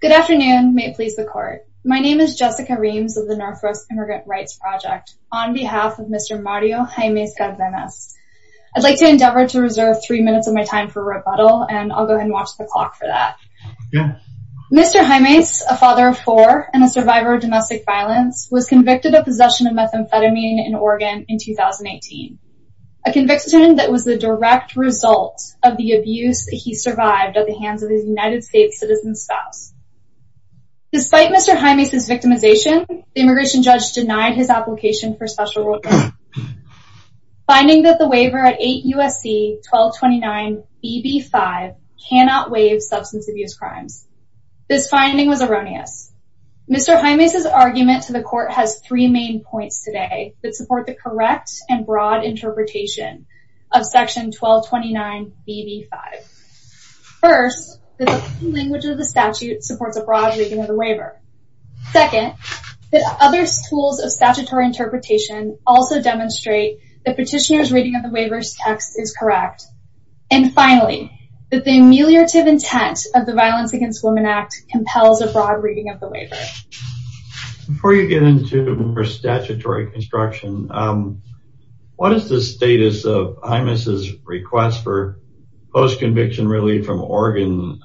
Good afternoon, may it please the court. My name is Jessica Reams of the North Rose Immigrant Rights Project on behalf of Mr. Mario Jaimes-Cardenas. I'd like to endeavor to reserve three minutes of my time for rebuttal and I'll go ahead and watch the clock for that. Mr. Jaimes, a father of four and a survivor of domestic violence, was convicted of possession of methamphetamine in Oregon in 2018. A conviction that was the direct result of the abuse that he survived at the Despite Mr. Jaimes' victimization, the immigration judge denied his application for special work. Finding that the waiver at 8 U.S.C. 1229 BB5 cannot waive substance abuse crimes. This finding was erroneous. Mr. Jaimes' argument to the court has three main points today that support the correct and broad interpretation of section 1229 BB5. First, that the language of the statute supports a broad reading of the waiver. Second, that other tools of statutory interpretation also demonstrate the petitioner's reading of the waiver's text is correct. And finally, that the ameliorative intent of the Violence Against Women Act compels a broad reading of the waiver. Before you get into more statutory construction, what is the status of Jaimes' request for post-conviction relief from Oregon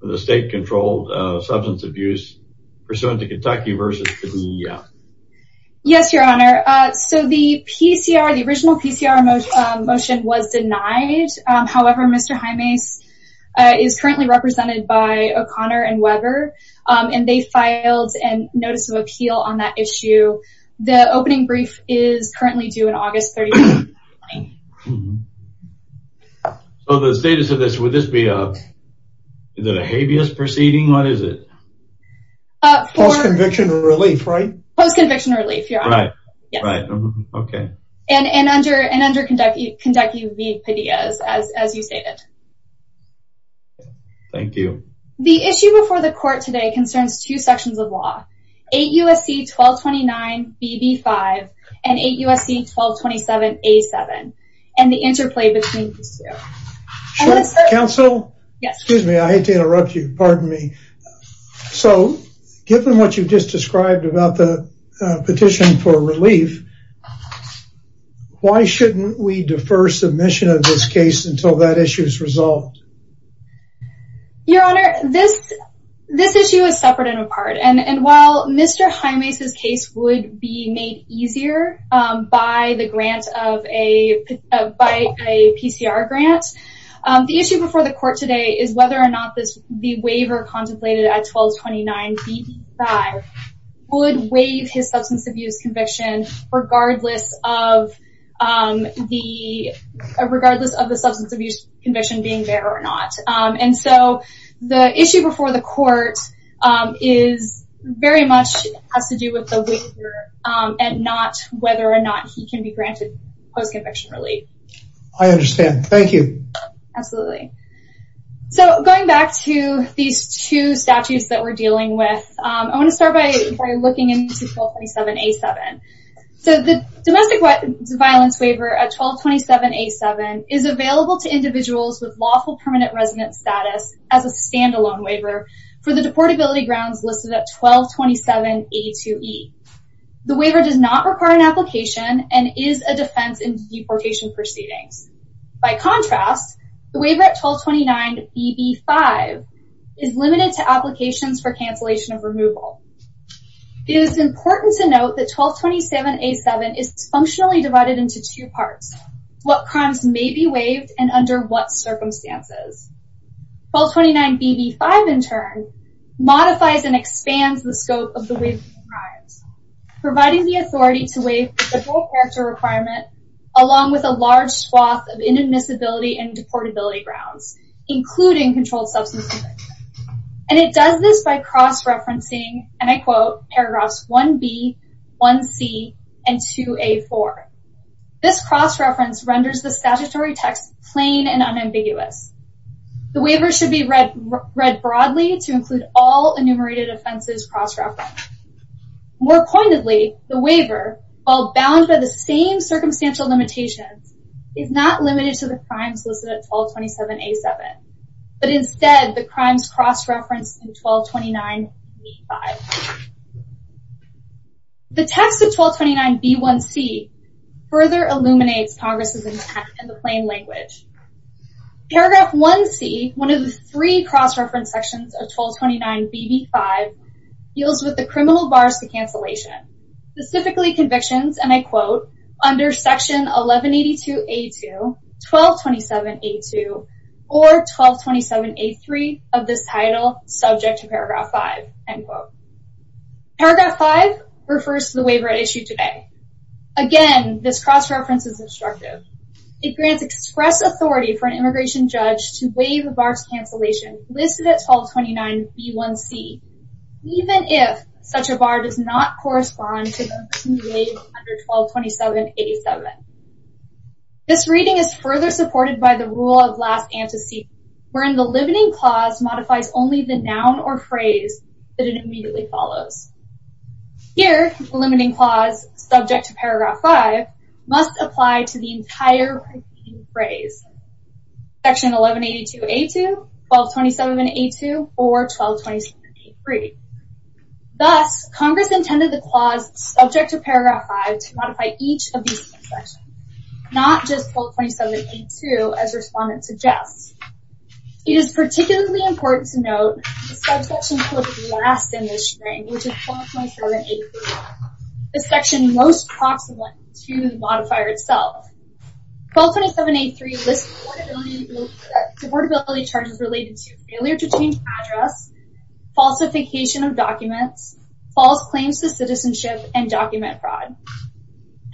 for the state-controlled substance abuse pursuant to Kentucky versus to the Yes, your honor. So the PCR, the original PCR motion was denied. However, Mr. Jaimes is currently represented by O'Connor and Weber and they filed a notice of appeal on that issue. The opening brief is currently due in August 31, 2020. So the status of this, would this be a, is it a habeas proceeding? What is it? Post-conviction relief, right? Post-conviction relief, your honor. Right, okay. And under Kentucky v. Padillas, as you stated. Thank you. The issue before the court today concerns two sections of law, 8 U.S.C. 1229 BB5 and 8 U.S.C. 1227 A7 and the interplay between these two. Counsel? Yes. Excuse me, I hate to interrupt you, pardon me. So given what you've just described about the petition for relief, why shouldn't we defer submission of this case until that issue is resolved? Your honor, this issue is separate and apart. And while Mr. Jaimes' case would be made easier by the grant of a, by a PCR grant, the issue before the court today is whether or not this, the waiver contemplated at 1229 BB5 would waive his substance abuse conviction regardless of the, regardless of the substance abuse conviction being there or not. And so the issue before the court is very much has to do with the waiver and not whether or not he can be granted post-conviction relief. I understand. Thank you. Absolutely. So going back to these two statutes that we're dealing with, I want to start by looking into 1227 A7. So the domestic violence waiver at 1227 A7 is available to individuals with lawful permanent residence status as a standalone waiver for the deportability grounds listed at 1227 A2E. The waiver does not require an application and is a defense in deportation proceedings. By contrast, the waiver at 1229 BB5 is limited to applications for is functionally divided into two parts. What crimes may be waived and under what circumstances. 1229 BB5 in turn modifies and expands the scope of the waivement of crimes, providing the authority to waive the full character requirement along with a large swath of inadmissibility and deportability grounds, including controlled substance conviction. And it does this by cross-referencing, and I quote, paragraphs 1B, 1C, and 2A4. This cross-reference renders the statutory text plain and unambiguous. The waiver should be read broadly to include all enumerated offenses cross-referenced. More pointedly, the waiver, while bound by the same circumstantial limitations, is not limited to the crimes listed at 1227 A7, but instead the crimes cross-referenced in 1229 BB5. The text of 1229 B1C further illuminates Congress's intent in the plain language. Paragraph 1C, one of the three cross-reference sections of 1229 BB5, deals with the criminal bars to cancellation, specifically convictions, and I quote, under section 1182 A2, 1227 A2, or 1227 A3 of this title, subject to paragraph 5, end quote. Paragraph 5 refers to the waiver at issue today. Again, this cross-reference is obstructive. It grants express authority for an immigration judge to waive the bars cancellation listed at 1229 B1C, even if such a bar does not correspond to under 1227 A7. This reading is further supported by the Rule of Last Antecedent, wherein the limiting clause modifies only the noun or phrase that it immediately follows. Here, the limiting clause, subject to paragraph 5, must apply to the entire phrase, section 1182 A2, 1227 A2, or 1227 A3. Thus, Congress intended the clause subject to paragraph 5 to modify each of these sections, not just 1227 A2, as respondents suggest. It is particularly important to note the subsection put last in this string, which is 1227 A3, the section most proximate to the modifier itself. 1227 A3 lists affordability charges related to failure to change address, falsification of documents, false claims to citizenship, and document fraud.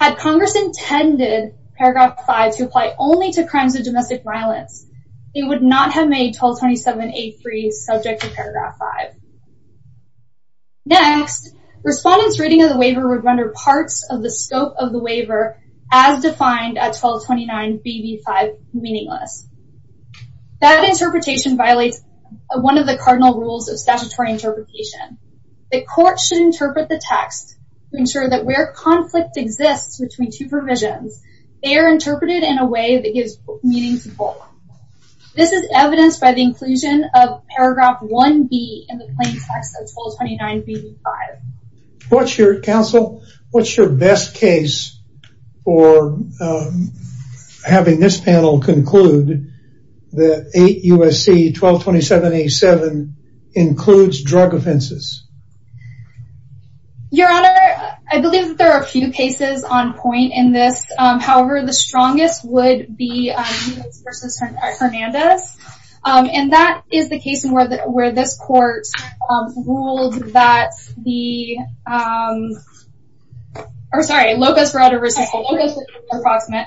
Had Congress intended paragraph 5 to apply only to crimes of domestic violence, they would not have made 1227 A3 subject to paragraph 5. Next, respondents' reading of the waiver would render parts of the scope of the waiver as defined at 1229 BB5 meaningless. That interpretation violates one of the cardinal rules of statutory interpretation. The court should interpret the text to ensure that where conflict exists between two provisions, they are interpreted in a way that gives meaning to both. This is evidenced by the inclusion of paragraph 1B in the plain text of 1229 BB5. What's your, counsel, what's your best case for having this panel conclude that 8 U.S.C. 1227 A7 includes drug offenses? Your honor, I believe that there are a few cases on point in this. However, the strongest would be versus Hernandez, and that is the case where this court ruled that the, or sorry, Locust Road versus Locust Approximate,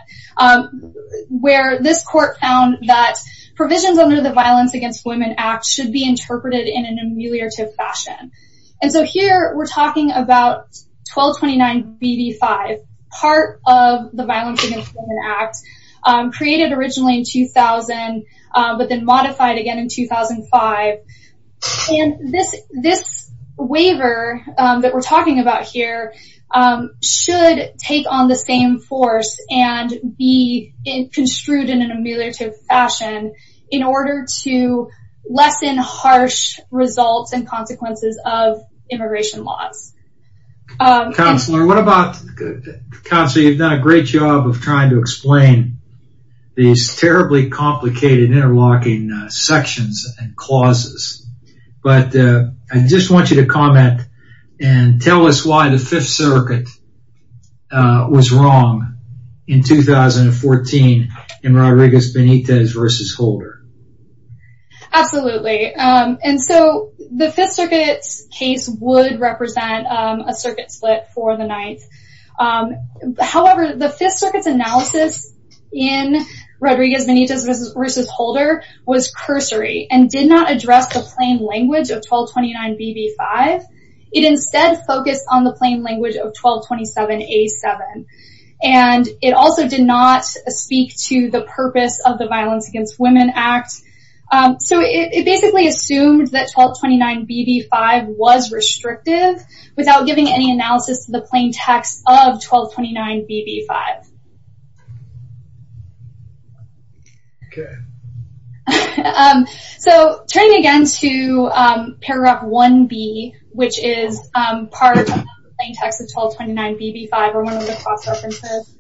where this court found that provisions under the Violence Against Women Act should be interpreted in an ameliorative fashion. And so here, we're talking about 1229 BB5, part of the Violence Against Women Act, created originally in 2000, but then this waiver that we're talking about here should take on the same force and be construed in an ameliorative fashion in order to lessen harsh results and consequences of immigration laws. Counselor, what about, counsel, you've done a great job of trying to explain these terribly complicated interlocking sections and clauses, but I just want you to comment and tell us why the Fifth Circuit was wrong in 2014 in Rodriguez Benitez versus Holder. Absolutely, and so the Fifth Circuit's case would represent a circuit split for the Ninth. However, the Fifth Circuit's analysis in did not address the plain language of 1229 BB5. It instead focused on the plain language of 1227 A7. And it also did not speak to the purpose of the Violence Against Women Act. So it basically assumed that 1229 BB5 was restrictive without giving any analysis to the plain text of 1229 BB5. Okay, so turning again to paragraph 1B, which is part of the plain text of 1229 BB5 or one of the cross-references.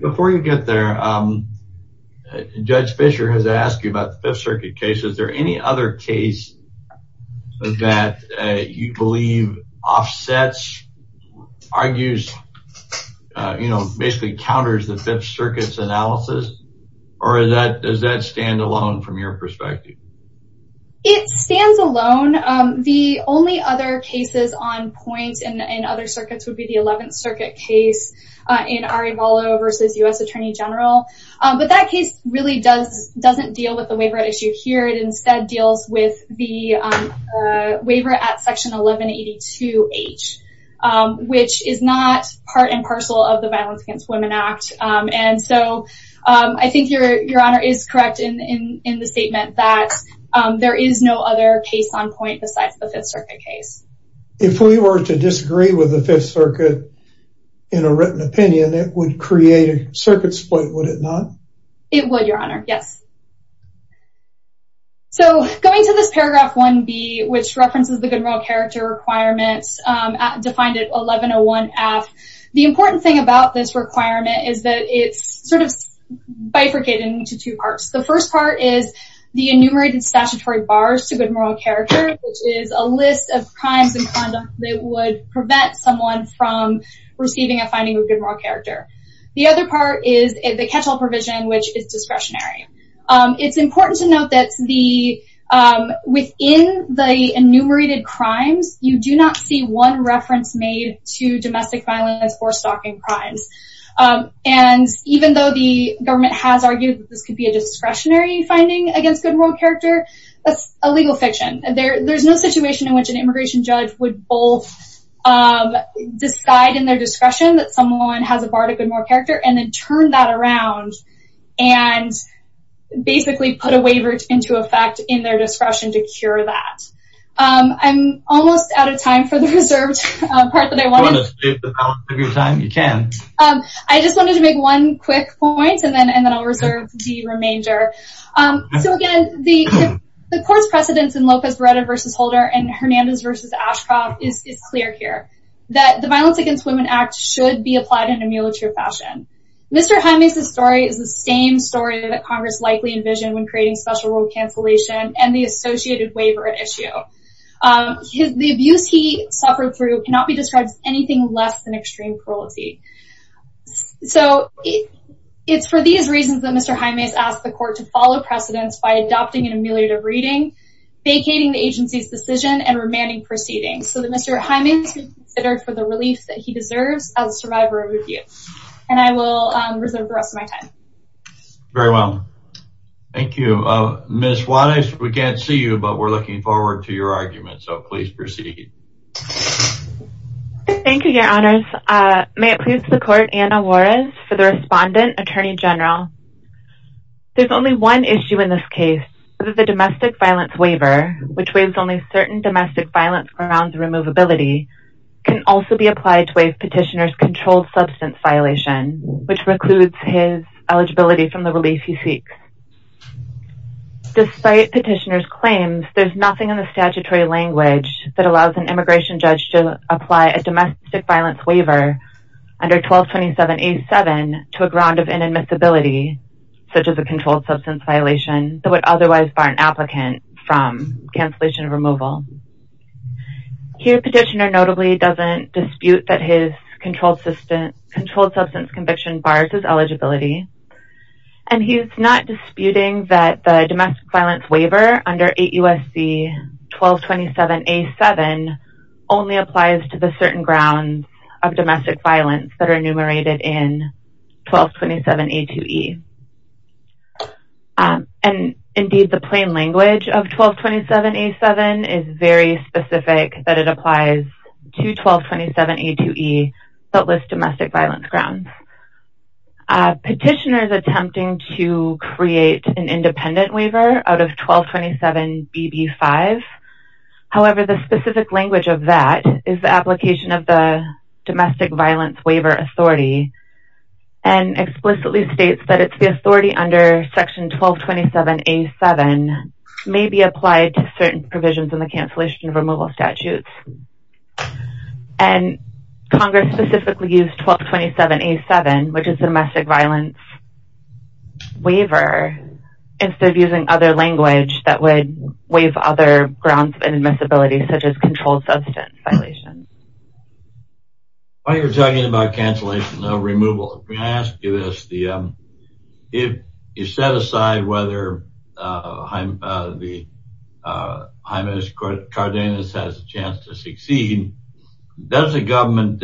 Before you get there, Judge Fischer has asked you about the Fifth Circuit case. Is there any other case that you believe offsets, argues, you know, basically counters the Fifth Circuit's analysis? Or does that stand alone from your perspective? It stands alone. The only other cases on point in other circuits would be the Eleventh Circuit case in Arevalo versus U.S. Attorney General. But that case really doesn't deal with the waiver right issue here. It instead deals with the waiver at Section 1182H, which is not part and parcel of the Violence Against Women Act. And so I think your honor is correct in the statement that there is no other case on point besides the Fifth Circuit case. If we were to disagree with the Fifth Circuit in a written opinion, it would create a circuit split, would it not? It would, your honor, yes. So going to this paragraph 1b, which references the good moral character requirements, defined at 1101 AFT, the important thing about this requirement is that it's sort of bifurcated into two parts. The first part is the enumerated statutory bars to good moral character, which is a list of crimes and conduct that would prevent someone from receiving a finding of good moral character. The other part is the catch-all provision, which is discretionary. It's important to note that within the enumerated crimes, you do not see one reference made to domestic violence or stalking crimes. And even though the government has argued that this could be a discretionary finding against good moral character, that's a legal fiction. There's no situation in which an immigration judge would both decide in their discretion that someone has a bar to good moral character and then turn that around and basically put a waiver into effect in their discretion to cure that. I'm almost out of time for the reserved part that I wanted. Do you want to save the balance of your time? You can. I just wanted to make one quick point and then I'll reserve the remainder. So again, the court's precedence in Lopez Barretta versus Holder and that the Violence Against Women Act should be applied in a military fashion. Mr. Jaime's story is the same story that Congress likely envisioned when creating special rule cancellation and the associated waiver issue. The abuse he suffered through cannot be described as anything less than extreme cruelty. So it's for these reasons that Mr. Jaime has asked the court to follow precedence by adopting an ameliorative reading, vacating the agency's decision, and remanding proceedings. So that Mr. Jaime is being considered for the relief that he deserves as a survivor of abuse. And I will reserve the rest of my time. Very well. Thank you. Ms. Juarez, we can't see you, but we're looking forward to your argument. So please proceed. Thank you, Your Honors. May it please the court, Anna Juarez, for the respondent, Attorney General. There's only one issue in this case, which is the domestic violence waiver, which waives only certain domestic violence grounds of removability, can also be applied to waive petitioner's controlled substance violation, which precludes his eligibility from the relief he seeks. Despite petitioner's claims, there's nothing in the statutory language that allows an immigration judge to apply a domestic violence waiver under 1227A7 to a ground of inadmissibility, such as a controlled substance violation that would otherwise bar an applicant from cancellation of removal. Here, petitioner notably doesn't dispute that his controlled substance conviction bars his eligibility. And he's not disputing that the domestic violence waiver under 8 U.S.C. 1227A7 only applies to the certain grounds of domestic violence that are enumerated in 1227A7 is very specific that it applies to 1227A2E that list domestic violence grounds. Petitioner's attempting to create an independent waiver out of 1227BB5. However, the specific language of that is the application of the domestic violence waiver authority and explicitly states that it's the authority under section 1227A7 may be applied to certain provisions in the cancellation of removal statutes. And Congress specifically used 1227A7, which is domestic violence waiver, instead of using other language that would waive other grounds of inadmissibility, such as controlled substance violation. While you're talking about cancellation of removal, can I ask you this? If you set aside whether the High Minister Cardenas has a chance to succeed, does the government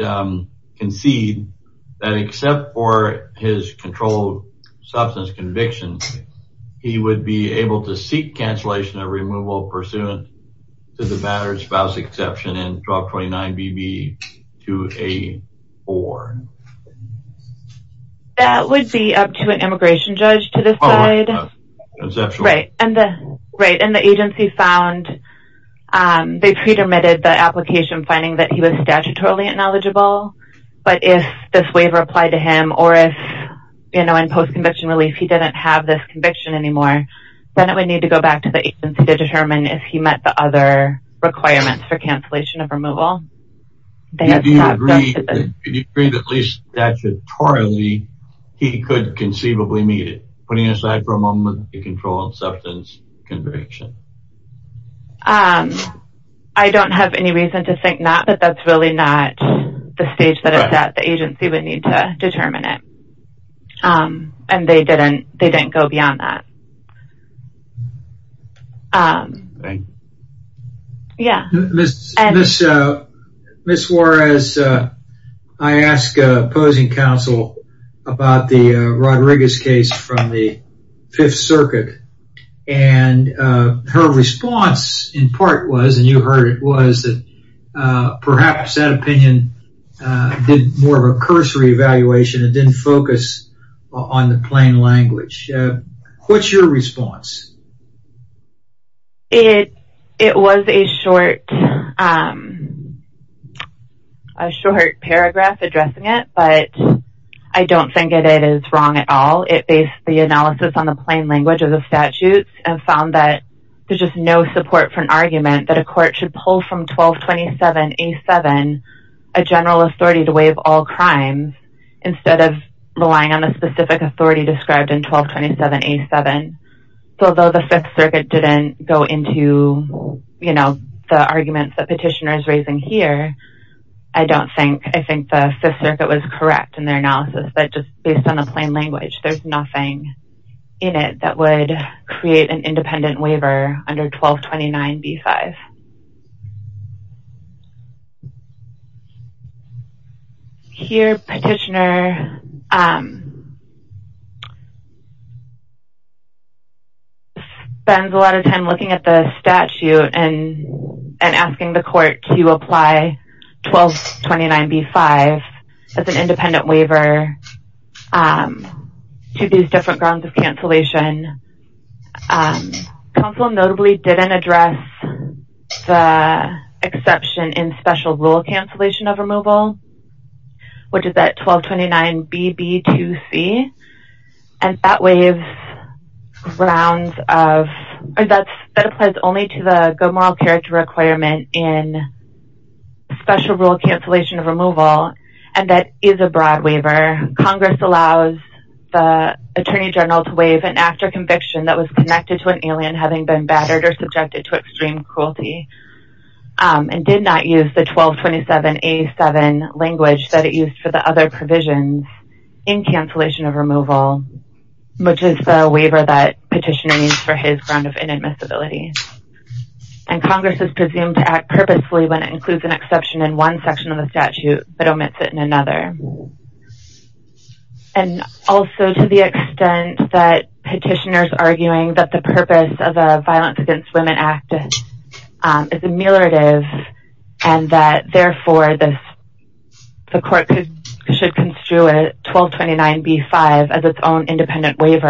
concede that except for his controlled substance conviction, he would be able to seek cancellation of removal pursuant to the battered spouse exception in 1229BB284? That would be up to an immigration judge to decide. Right. And the agency found they pre-permitted the application finding that he was statutorily ineligible. But if this waiver applied to him, or if, you know, in post-conviction relief, he didn't have this conviction anymore, then it would need to go back to the agency to determine if he met the other requirements for cancellation of removal. Do you agree that at least statutorily, he could conceivably meet it, putting aside for a moment the controlled substance conviction? I don't have any reason to think not, but that's really not the stage that the agency would need to determine it. And they didn't go beyond that. Ms. Juarez, I asked opposing counsel about the Rodriguez case from the Fifth Circuit, and her response in part was, and you heard it, was that perhaps that opinion did more of a cursory evaluation, it didn't focus on the plain language. What's your response to that? It was a short paragraph addressing it, but I don't think that it is wrong at all. It based the analysis on the plain language of the statutes and found that there's just no support for an argument that a court should pull from 1227A7 a general authority to waive all crimes instead of specific authority described in 1227A7. So although the Fifth Circuit didn't go into the arguments that Petitioner is raising here, I don't think, I think the Fifth Circuit was correct in their analysis, but just based on the plain language, there's nothing in it that would create an independent waiver under 1229B5. Okay. Here, Petitioner spends a lot of time looking at the statute and asking the court to apply 1229B5 as an independent waiver to these different grounds of cancellation. Council notably didn't address the exception in special rule cancellation of removal, which is that 1229BB2C, and that waives grounds of, that applies only to the good moral character requirement in special rule cancellation of removal, and that is a broad waiver. Congress allows the attorney general to waive an act or conviction that was connected to an alien having been battered or subjected to extreme cruelty, and did not use the 1227A7 language that it used for the other provisions in cancellation of removal, which is the waiver that Petitioner needs for his ground of inadmissibility. And Congress is presumed to act purposefully when it includes an exception in one section of the statute, but omits it in another. And also to the extent that Petitioner's arguing that the purpose of a Violence Against Women Act is ameliorative, and that therefore the court should construe a 1229B5 as its own independent is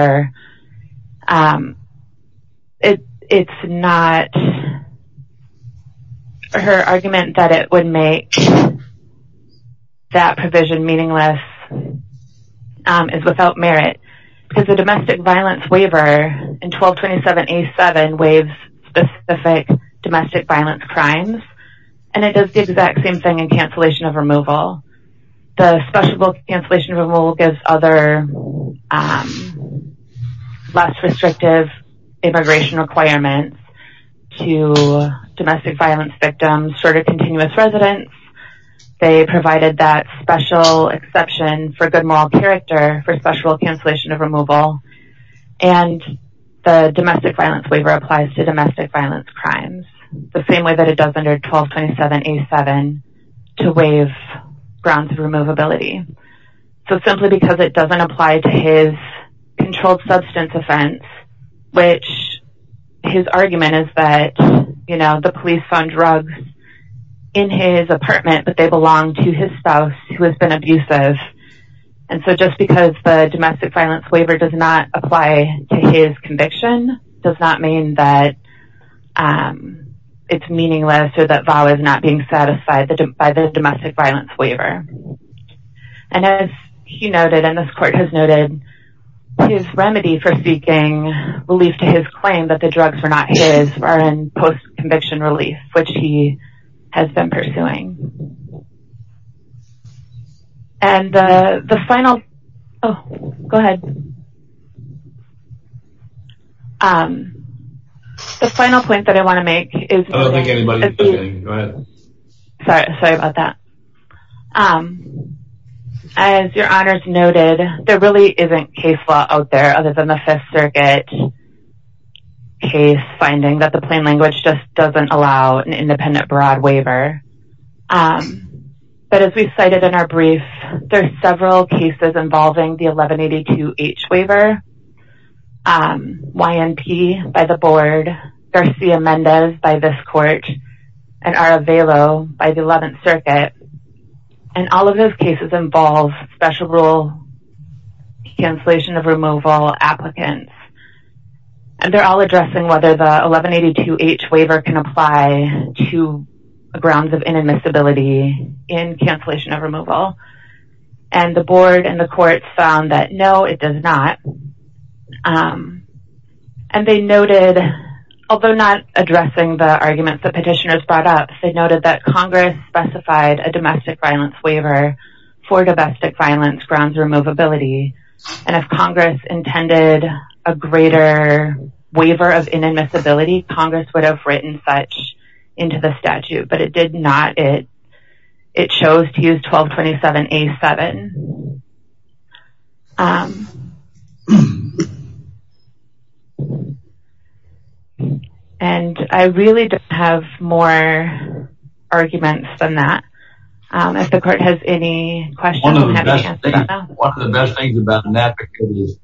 without merit. Because the domestic violence waiver in 1227A7 waives specific domestic violence crimes, and it does the exact same thing in cancellation of removal. The special rule cancellation of removal gives other less restrictive immigration requirements to domestic violence victims short of continuous residence. They provided that special exception for good moral character for special cancellation of removal. And the domestic violence waiver applies to domestic violence crimes the same way that it does under 1227A7 to waive grounds of removability. So simply because it doesn't apply to his controlled substance offense, which his argument is that, you know, the police found drugs in his apartment, but they belong to his spouse who has been abusive. And so just because the domestic violence waiver does not apply to his conviction does not mean that it's meaningless or that VAW is not being satisfied by the domestic violence waiver. And as he noted, and this court has noted, his remedy for seeking relief to his claim that the drugs were not his are in post-conviction relief, which he has been pursuing. And the final, oh, go ahead. Um, the final point that I want to make is, sorry, sorry about that. Um, as your honors noted, there really isn't case law out there other than the Fifth Circuit case finding that the plain language just doesn't allow an independent broad waiver. Um, but as we cited in our brief, there's several cases involving the 1182H waiver, um, YNP by the board, Garcia-Mendez by this court, and Aravelo by the 11th circuit. And all of those cases involve special rule cancellation of removal applicants. And they're all addressing whether the 1182H waiver can apply to grounds of inadmissibility in cancellation of removal. And the board and the courts found that no, it does not. Um, and they noted, although not addressing the arguments that petitioners brought up, they noted that Congress specified a domestic violence waiver for domestic violence grounds removability. And if Congress intended a greater waiver of inadmissibility, Congress would have written such into the statute, but it did not. It, it chose to use 1227A7. Um, and I really don't have more arguments than that. Um, if the court has any questions. One of the best things about an advocate is,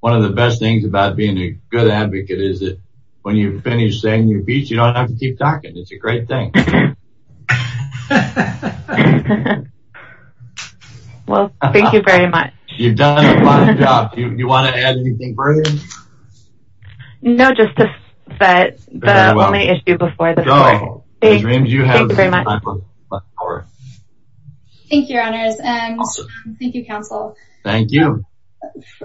one of the best things about being a good advocate is that when you've finished saying your piece, you don't have to keep talking. It's a great thing. Well, thank you very much. You've done a fine job. Do you want to add anything further? No, just to set the only issue before the court. Thank you very much. All right. Thank you, Your Honors. And thank you, counsel. Thank you.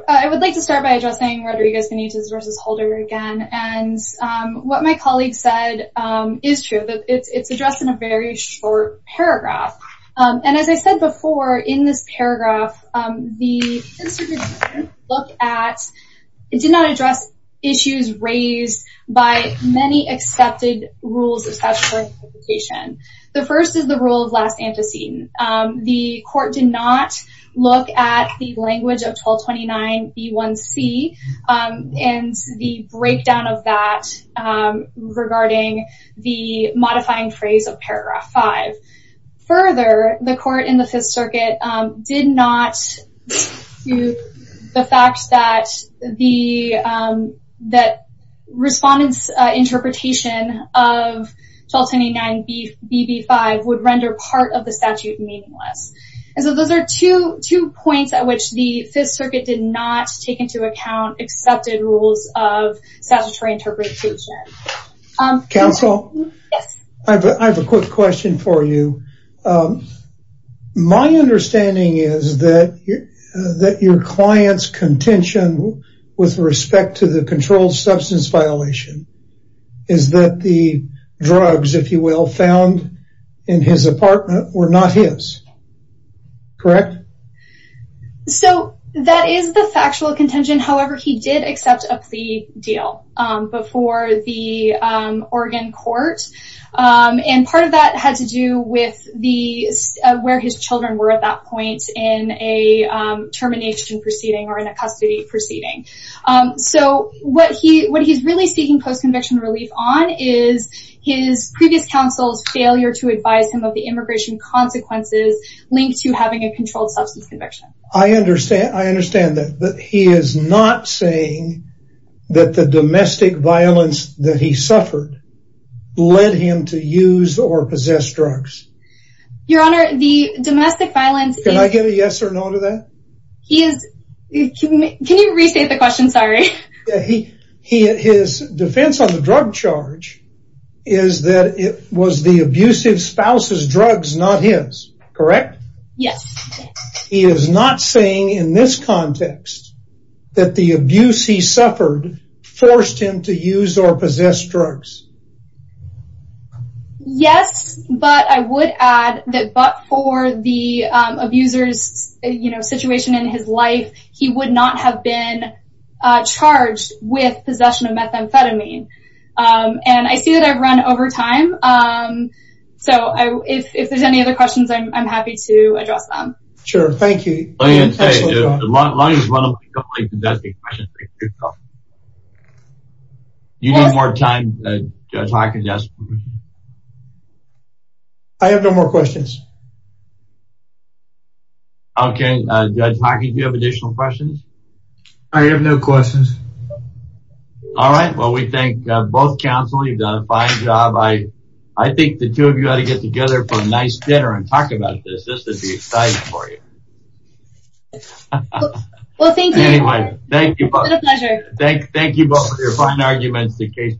I would like to start by addressing Rodriguez-Benitez versus Holder again. And, um, what my colleague said, um, is true that it's, it's addressed in a very short paragraph. Um, and as I said before in this paragraph, um, the look at, it did not address issues raised by many accepted rules of statutory interpretation. The first is the rule of last antecedent. Um, the court did not look at the language of 1229B1C, um, and the breakdown of that, um, regarding the modifying phrase of paragraph five. Further, the court in the Fifth Circuit, um, did not view the fact that the, um, that 1229BB5 would render part of the statute meaningless. And so those are two, two points at which the Fifth Circuit did not take into account accepted rules of statutory interpretation. Counsel? Yes. I have a quick question for you. Um, my understanding is that your, that your client's contention with respect to the controlled substance violation is that the drugs, if you will, found in his apartment were not his, correct? So that is the factual contention. However, he did accept a plea deal, um, before the, um, Oregon court. Um, and part of that had to do with the, where his children were at that point in a, um, relief on is his previous counsel's failure to advise him of the immigration consequences linked to having a controlled substance conviction. I understand, I understand that, but he is not saying that the domestic violence that he suffered led him to use or possess drugs. Your Honor, the domestic violence... Can I get a yes or no to that? He is, can you restate the question? Sorry. He, he, his defense on the drug charge is that it was the abusive spouse's drugs, not his, correct? Yes. He is not saying in this context that the abuse he suffered forced him to use or possess drugs. Yes, but I would add that, but for the, um, abuser's, you know, situation in his life, he would not have been, uh, charged with possession of methamphetamine. Um, and I see that I've run over time. Um, so I, if, if there's any other questions, I'm, I'm happy to address them. Sure. Thank you. Let me just say, as long as one of my colleagues is asking questions, um, you need more time, uh, Judge Hawkins. Yes. I have no more questions. Okay. Uh, Judge Hawkins, do you have additional questions? I have no questions. All right. Well, we thank, uh, both counsel. You've done a fine job. I, I think the two of you ought to get together for a nice dinner and talk about this. This Thank you both for your fine arguments. The case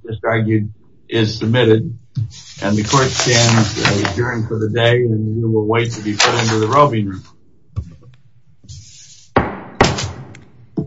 is submitted and the court stands adjourned for the day and we will wait to be put into the roving room.